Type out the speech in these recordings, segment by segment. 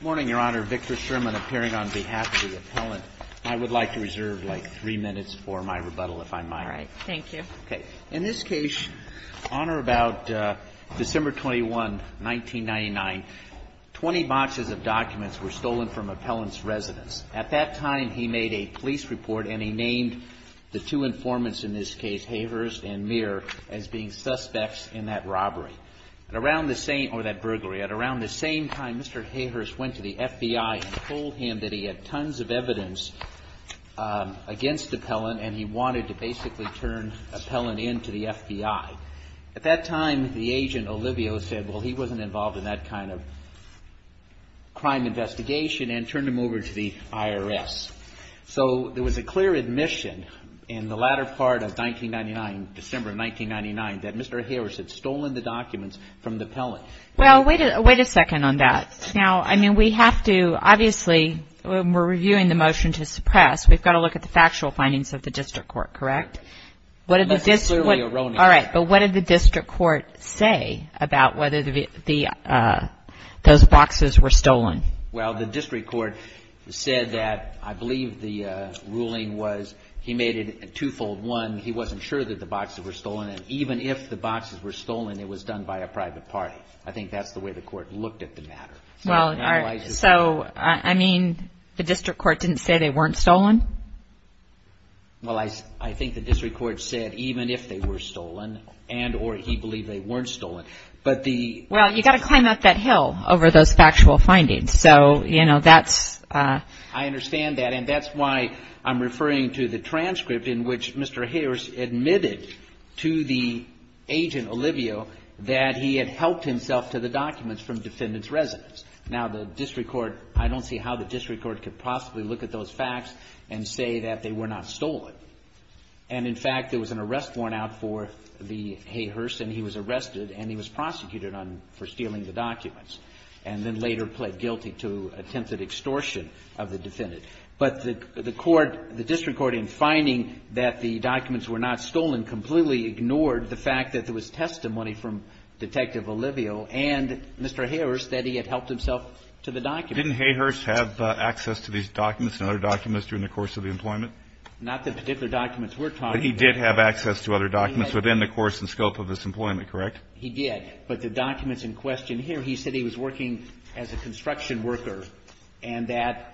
Morning, Your Honor. Victor Sherman appearing on behalf of the appellant. I would like to reserve, like, three minutes for my rebuttal, if I might. All right. Thank you. Okay. In this case, Honor, about December 21, 1999, 20 boxes of documents were stolen from appellant's residence. At that time, he made a police report, and he named the two informants in this case, Havers and Muir, as being suspects in that robbery. At around the same – or that burglary – at around the same time, Mr. Havers went to the FBI and told him that he had tons of evidence against appellant, and he wanted to basically turn appellant into the FBI. At that time, the agent, Olivio, said, well, he wasn't involved in that kind of crime investigation, and turned him over to the IRS. So there was a clear admission in the latter part of 1999, December of 1999, that Mr. Havers had stolen the documents from the appellant. Well, wait a second on that. Now, I mean, we have to – obviously, when we're reviewing the motion to suppress, we've got to look at the factual findings of the district court, correct? That's clearly erroneous. All right. But what did the district court say about whether the – those boxes were stolen? Well, the district court said that – I believe the ruling was he made it twofold. One, he wasn't sure that the boxes were stolen, and even if the boxes were stolen, it was done by a private party. I think that's the way the court looked at the matter. Well, so, I mean, the district court didn't say they weren't stolen? Well, I think the district court said even if they were stolen, and – or he believed they weren't stolen. But the – Well, you've got to climb up that hill over those factual findings. So, you know, that's – I understand that, and that's why I'm referring to the transcript in which Mr. Hayhurst admitted to the agent, Olivio, that he had helped himself to the documents from defendants' residence. Now, the district court – I don't see how the district court could possibly look at those facts and say that they were not stolen. And, in fact, there was an arrest worn out for the – Hayhurst, and he was arrested, and he was prosecuted on – for stealing the But the court – the district court, in finding that the documents were not stolen, completely ignored the fact that there was testimony from Detective Olivio and Mr. Hayhurst that he had helped himself to the documents. Didn't Hayhurst have access to these documents and other documents during the course of the employment? Not the particular documents we're talking about. But he did have access to other documents within the course and scope of his employment, He did. But the documents in question here, he said he was working as a construction worker, and that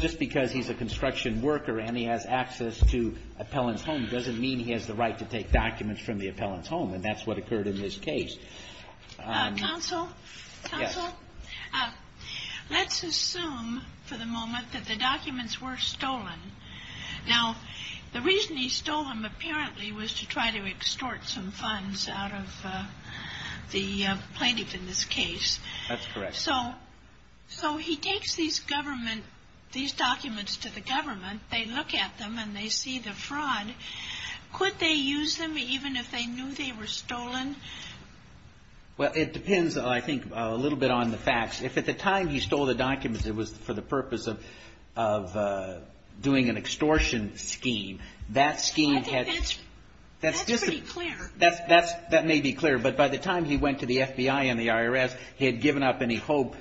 just because he's a construction worker and he has access to appellant's home doesn't mean he has the right to take documents from the appellant's home. And that's what occurred in this case. Counsel? Yes. Counsel? Let's assume for the moment that the documents were stolen. Now, the reason he stole them apparently was to try to extort some funds out of the plaintiff in this case. That's correct. So he takes these government – these documents to the government. They look at them and they see the fraud. Could they use them even if they knew they were stolen? Well, it depends, I think, a little bit on the facts. If at the time he stole the documents it was for the purpose of doing an extortion scheme, that scheme had – I think that's pretty clear. That may be clear. But by the time he went to the FBI and the IRS, he had given up any hope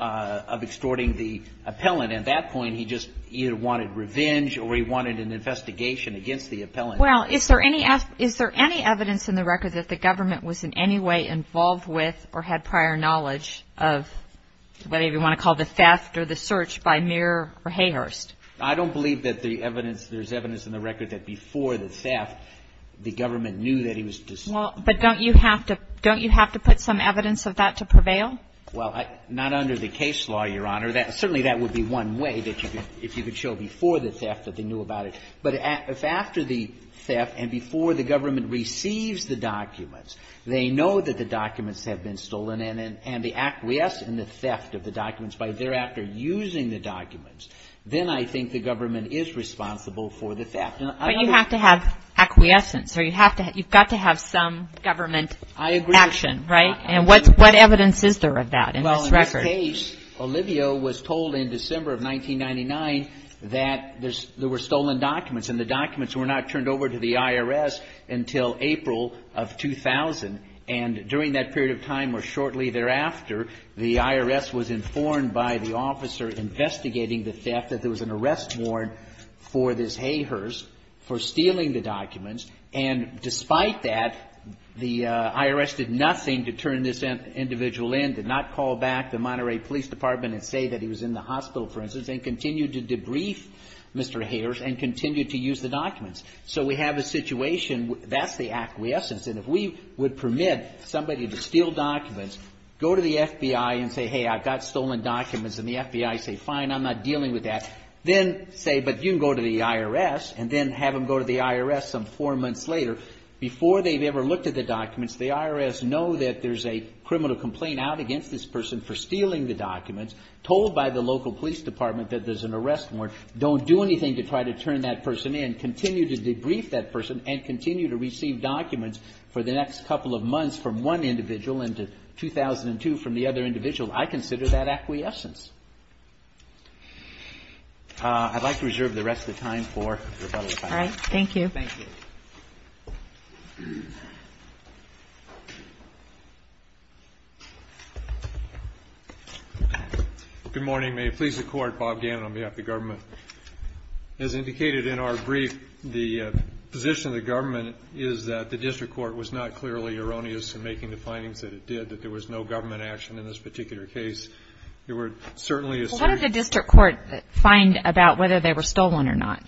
of extorting the appellant. At that point he just either wanted revenge or he wanted an investigation against the appellant. Well, is there any evidence in the record that the government was in any way involved with or had prior knowledge of whatever you want to call the theft or the search by Muir or Hayhurst? I don't believe that the evidence – there's evidence in the record that before the theft the government knew that he was – Well, but don't you have to – don't you have to put some evidence of that to prevail? Well, not under the case law, Your Honor. Certainly that would be one way that you could – if you could show before the theft that they knew about it. But if after the theft and before the government receives the documents they know that the documents have been stolen and they acquiesce in the theft of the documents by thereafter using the documents, then I think the government is responsible for the theft. But you have to have acquiescence or you have to – you've got to have some government action, right? I agree. And what evidence is there of that in this record? In this case, Olivio was told in December of 1999 that there were stolen documents and the documents were not turned over to the IRS until April of 2000. And during that period of time or shortly thereafter, the IRS was informed by the officer investigating the theft that there was an arrest warrant for this Hayhurst for stealing the documents. And despite that, the IRS did nothing to turn this individual in, did not call back the Monterey Police Department and say that he was in the hospital, for instance, and continued to debrief Mr. Hayhurst and continued to use the documents. So we have a situation – that's the acquiescence. And if we would permit somebody to steal documents, go to the FBI and say, hey, I've got stolen documents, and the FBI say, fine, I'm not dealing with that, then say, but you can go to the IRS and then have them go to the IRS some four months later. Before they've ever looked at the documents, the IRS know that there's a criminal complaint out against this person for stealing the documents, told by the local police department that there's an arrest warrant, don't do anything to try to turn that person in, continue to debrief that person and continue to receive documents for the next couple of months from one individual into 2002 from the other individual. I consider that acquiescence. I'd like to reserve the rest of the time for rebuttal. All right. Thank you. Thank you. Good morning. May it please the Court, Bob Gammon on behalf of the government. As indicated in our brief, the position of the government is that the district court was not clearly erroneous in making the findings that it did, that there was no government action in this particular case. Well, what did the district court find about whether they were stolen or not?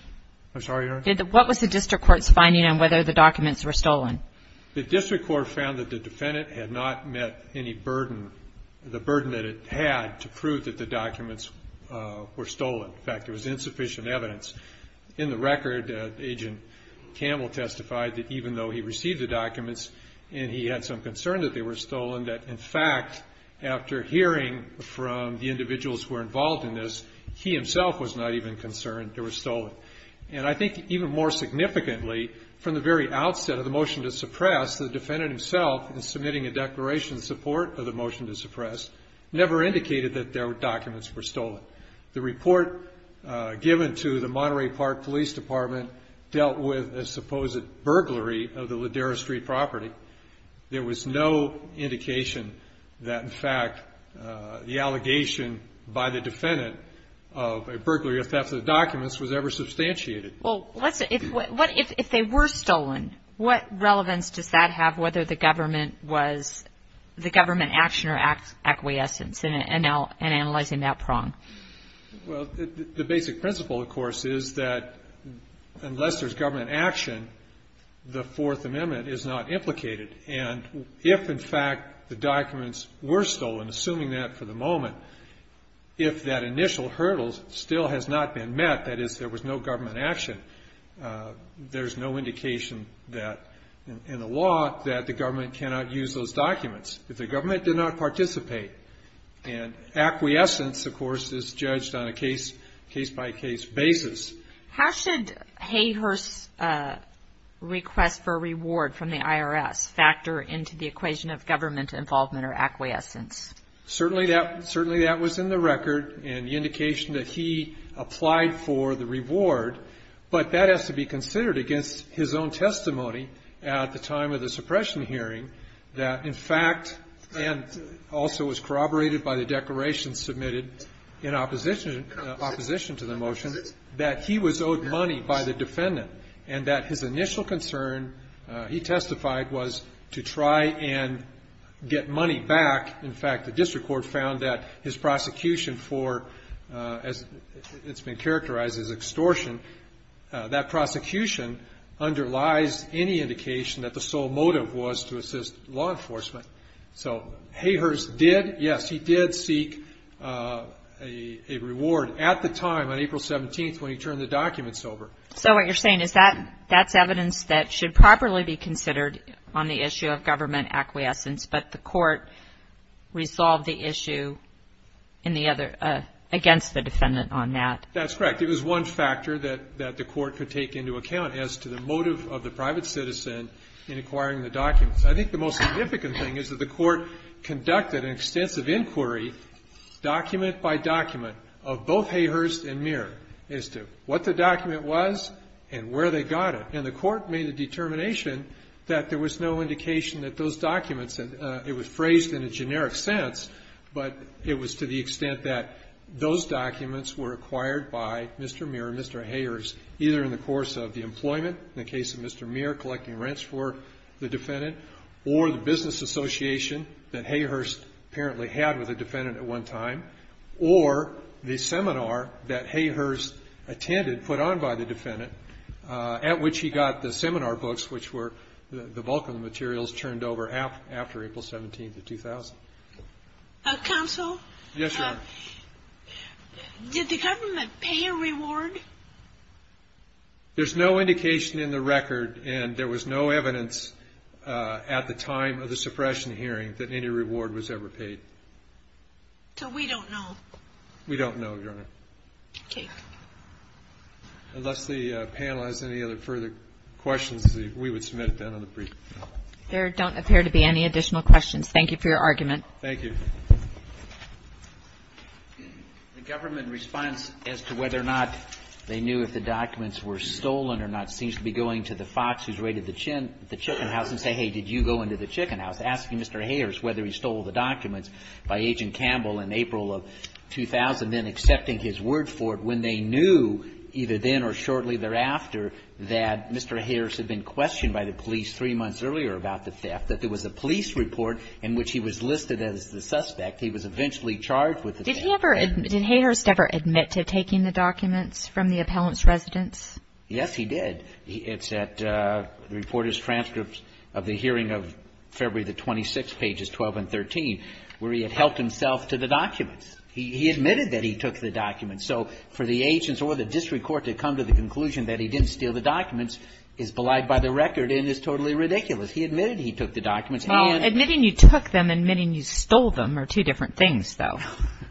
I'm sorry, Your Honor? What was the district court's finding on whether the documents were stolen? The district court found that the defendant had not met any burden, the burden that it had, to prove that the documents were stolen. In fact, there was insufficient evidence. In the record, Agent Campbell testified that even though he received the documents and he had some concern that they were stolen, that in fact, after hearing from the individuals who were involved in this, he himself was not even concerned they were stolen. And I think even more significantly, from the very outset of the motion to suppress, the defendant himself, in submitting a declaration in support of the motion to suppress, never indicated that their documents were stolen. The report given to the Monterey Park Police Department dealt with a supposed burglary of the Ladera Street property. There was no indication that, in fact, the allegation by the defendant of a burglary or theft of the documents was ever substantiated. Well, if they were stolen, what relevance does that have, whether the government was the government action or acquiescence in analyzing that prong? Well, the basic principle, of course, is that unless there's government action, the Fourth Amendment is not implicated. And if, in fact, the documents were stolen, assuming that for the moment, if that initial hurdle still has not been met, that is, there was no government action, there's no indication in the law that the government cannot use those documents. And that is, of course, judged on a case-by-case basis. How should Hayhurst's request for a reward from the IRS factor into the equation of government involvement or acquiescence? Certainly that was in the record, and the indication that he applied for the reward, but that has to be considered against his own testimony at the time of the suppression hearing, that, in fact, and also was corroborated by the declaration submitted in opposition to the motion, that he was owed money by the defendant, and that his initial concern, he testified, was to try and get money back. In fact, the district court found that his prosecution for, as it's been characterized as extortion, that prosecution underlies any indication that the sole motive was to assist law enforcement. So Hayhurst did, yes, he did seek a reward at the time, on April 17th, when he turned the documents over. So what you're saying is that that's evidence that should properly be considered on the issue of government acquiescence, but the court resolved the issue against the defendant on that. That's correct. It was one factor that the court could take into account as to the motive of the private citizen in acquiring the documents. I think the most significant thing is that the court conducted an extensive inquiry, document by document, of both Hayhurst and Muir, as to what the document was and where they got it. And the court made the determination that there was no indication that those documents, and it was phrased in a generic sense, but it was to the extent that those documents were acquired by Mr. Muir and Mr. Hayhurst, either in the course of the employment, in the case of Mr. Muir, collecting rents for the defendant, or the business association that Hayhurst apparently had with the defendant at one time, or the seminar that Hayhurst attended, put on by the defendant, at which he got the seminar books, which were the bulk of the materials, turned over after April 17th of 2000. Counsel? Yes, Your Honor. Did the government pay a reward? There's no indication in the record, and there was no evidence at the time of the suppression hearing, that any reward was ever paid. So we don't know. We don't know, Your Honor. Okay. Unless the panel has any other further questions, we would submit it then on the briefing. There don't appear to be any additional questions. Thank you for your argument. Thank you. The government response as to whether or not they knew if the documents were stolen or not seems to be going to the fox who's raided the chicken house and saying, hey, did you go into the chicken house, asking Mr. Hayhurst whether he stole the documents by Agent Campbell in April of 2000, and then accepting his word for it when they knew, either then or shortly thereafter, that Mr. Hayhurst had been questioned by the police three months earlier about the theft, that there was a police report in which he was listed as the suspect. He was eventually charged with the theft. Did he ever admit, did Hayhurst ever admit to taking the documents from the appellant's residence? Yes, he did. It's at the reporter's transcripts of the hearing of February the 26th, pages 12 and 13, where he had helped himself to the documents. He admitted that he took the documents. So for the agents or the district court to come to the conclusion that he didn't steal the documents is belied by the record and is totally ridiculous. He admitted he took the documents. Well, admitting you took them and admitting you stole them are two different things, though.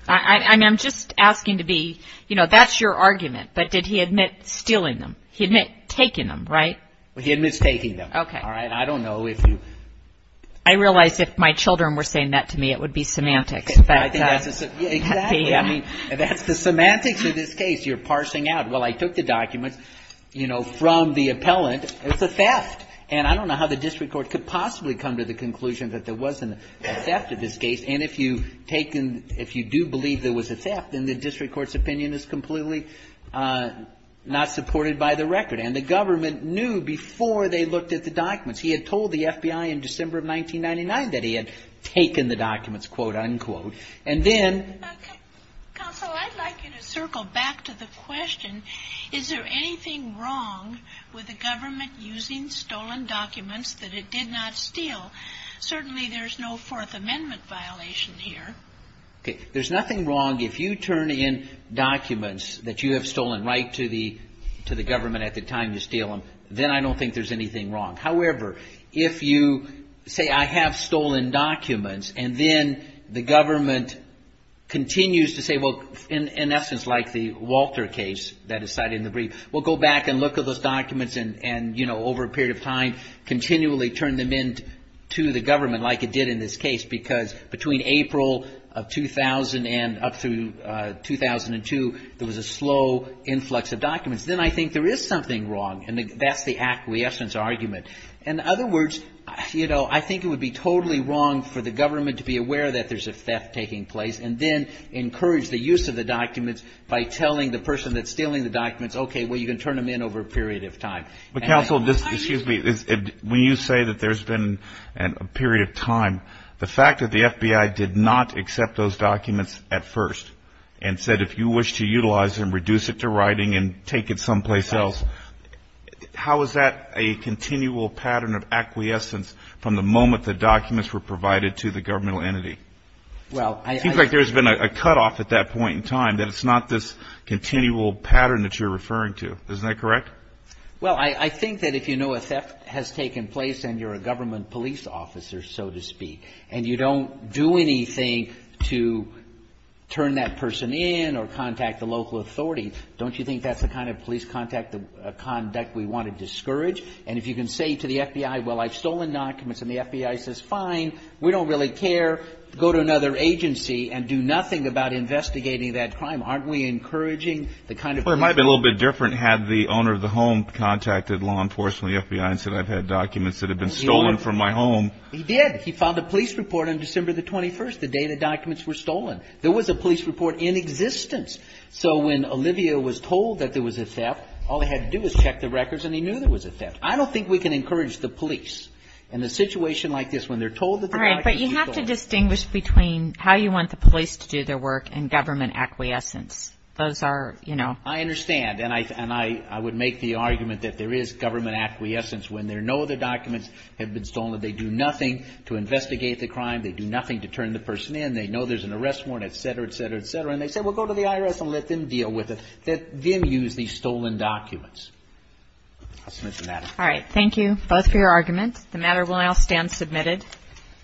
I'm just asking to be, you know, that's your argument, but did he admit stealing them? He admit taking them, right? He admits taking them. Okay. All right. I don't know if you. I realize if my children were saying that to me, it would be semantics. Exactly. I mean, that's the semantics of this case. You're parsing out, well, I took the documents, you know, from the appellant. It was a theft. And I don't know how the district court could possibly come to the conclusion that there wasn't a theft in this case. And if you've taken, if you do believe there was a theft, then the district court's opinion is completely not supported by the record. And the government knew before they looked at the documents. He had told the FBI in December of 1999 that he had taken the documents, quote, unquote. And then. Counsel, I'd like you to circle back to the question, is there anything wrong with the government using stolen documents that it did not steal? Certainly there's no Fourth Amendment violation here. Okay. There's nothing wrong if you turn in documents that you have stolen right to the government at the time you steal them. Then I don't think there's anything wrong. However, if you say I have stolen documents and then the government continues to say, well, in essence, like the Walter case that is cited in the brief, we'll go back and look at those documents and, you know, over a period of time continually turn them in to the government like it did in this case. Because between April of 2000 and up through 2002, there was a slow influx of documents. Then I think there is something wrong. And that's the acquiescence argument. In other words, you know, I think it would be totally wrong for the government to be aware that there's a theft taking place and then encourage the use of the documents by telling the person that's stealing the documents, okay, well, you can turn them in over a period of time. But, counsel, excuse me. When you say that there's been a period of time, the fact that the FBI did not accept those documents at first and said if you wish to utilize them, reduce it to writing and take it someplace else, how is that a continual pattern of acquiescence from the moment the documents were provided to the governmental entity? It seems like there's been a cutoff at that point in time that it's not this continual pattern that you're referring to. Isn't that correct? Well, I think that if you know a theft has taken place and you're a government police officer, so to speak, and you don't do anything to turn that person in or contact the local authority, don't you think that's the kind of police contact conduct we want to discourage? And if you can say to the FBI, well, I've stolen documents, and the FBI says, fine, we don't really care, go to another agency and do nothing about investigating that crime, aren't we encouraging the kind of police contact? Well, it might be a little bit different had the owner of the home contacted law enforcement or the FBI and said I've had documents that have been stolen from my home. He did. He filed a police report on December the 21st, the day the documents were stolen. There was a police report in existence. So when Olivia was told that there was a theft, all he had to do was check the records and he knew there was a theft. I don't think we can encourage the police in a situation like this when they're told that the documents were stolen. All right. But you have to distinguish between how you want the police to do their work and government acquiescence. Those are, you know. I understand, and I would make the argument that there is government acquiescence when there are no other documents that have been stolen. They do nothing to investigate the crime. They do nothing to turn the person in. They know there's an arrest warrant, et cetera, et cetera, et cetera. And they say, well, go to the IRS and let them deal with it. Let them use these stolen documents. I'll submit the matter. All right. Thank you both for your arguments. The matter will now stand submitted.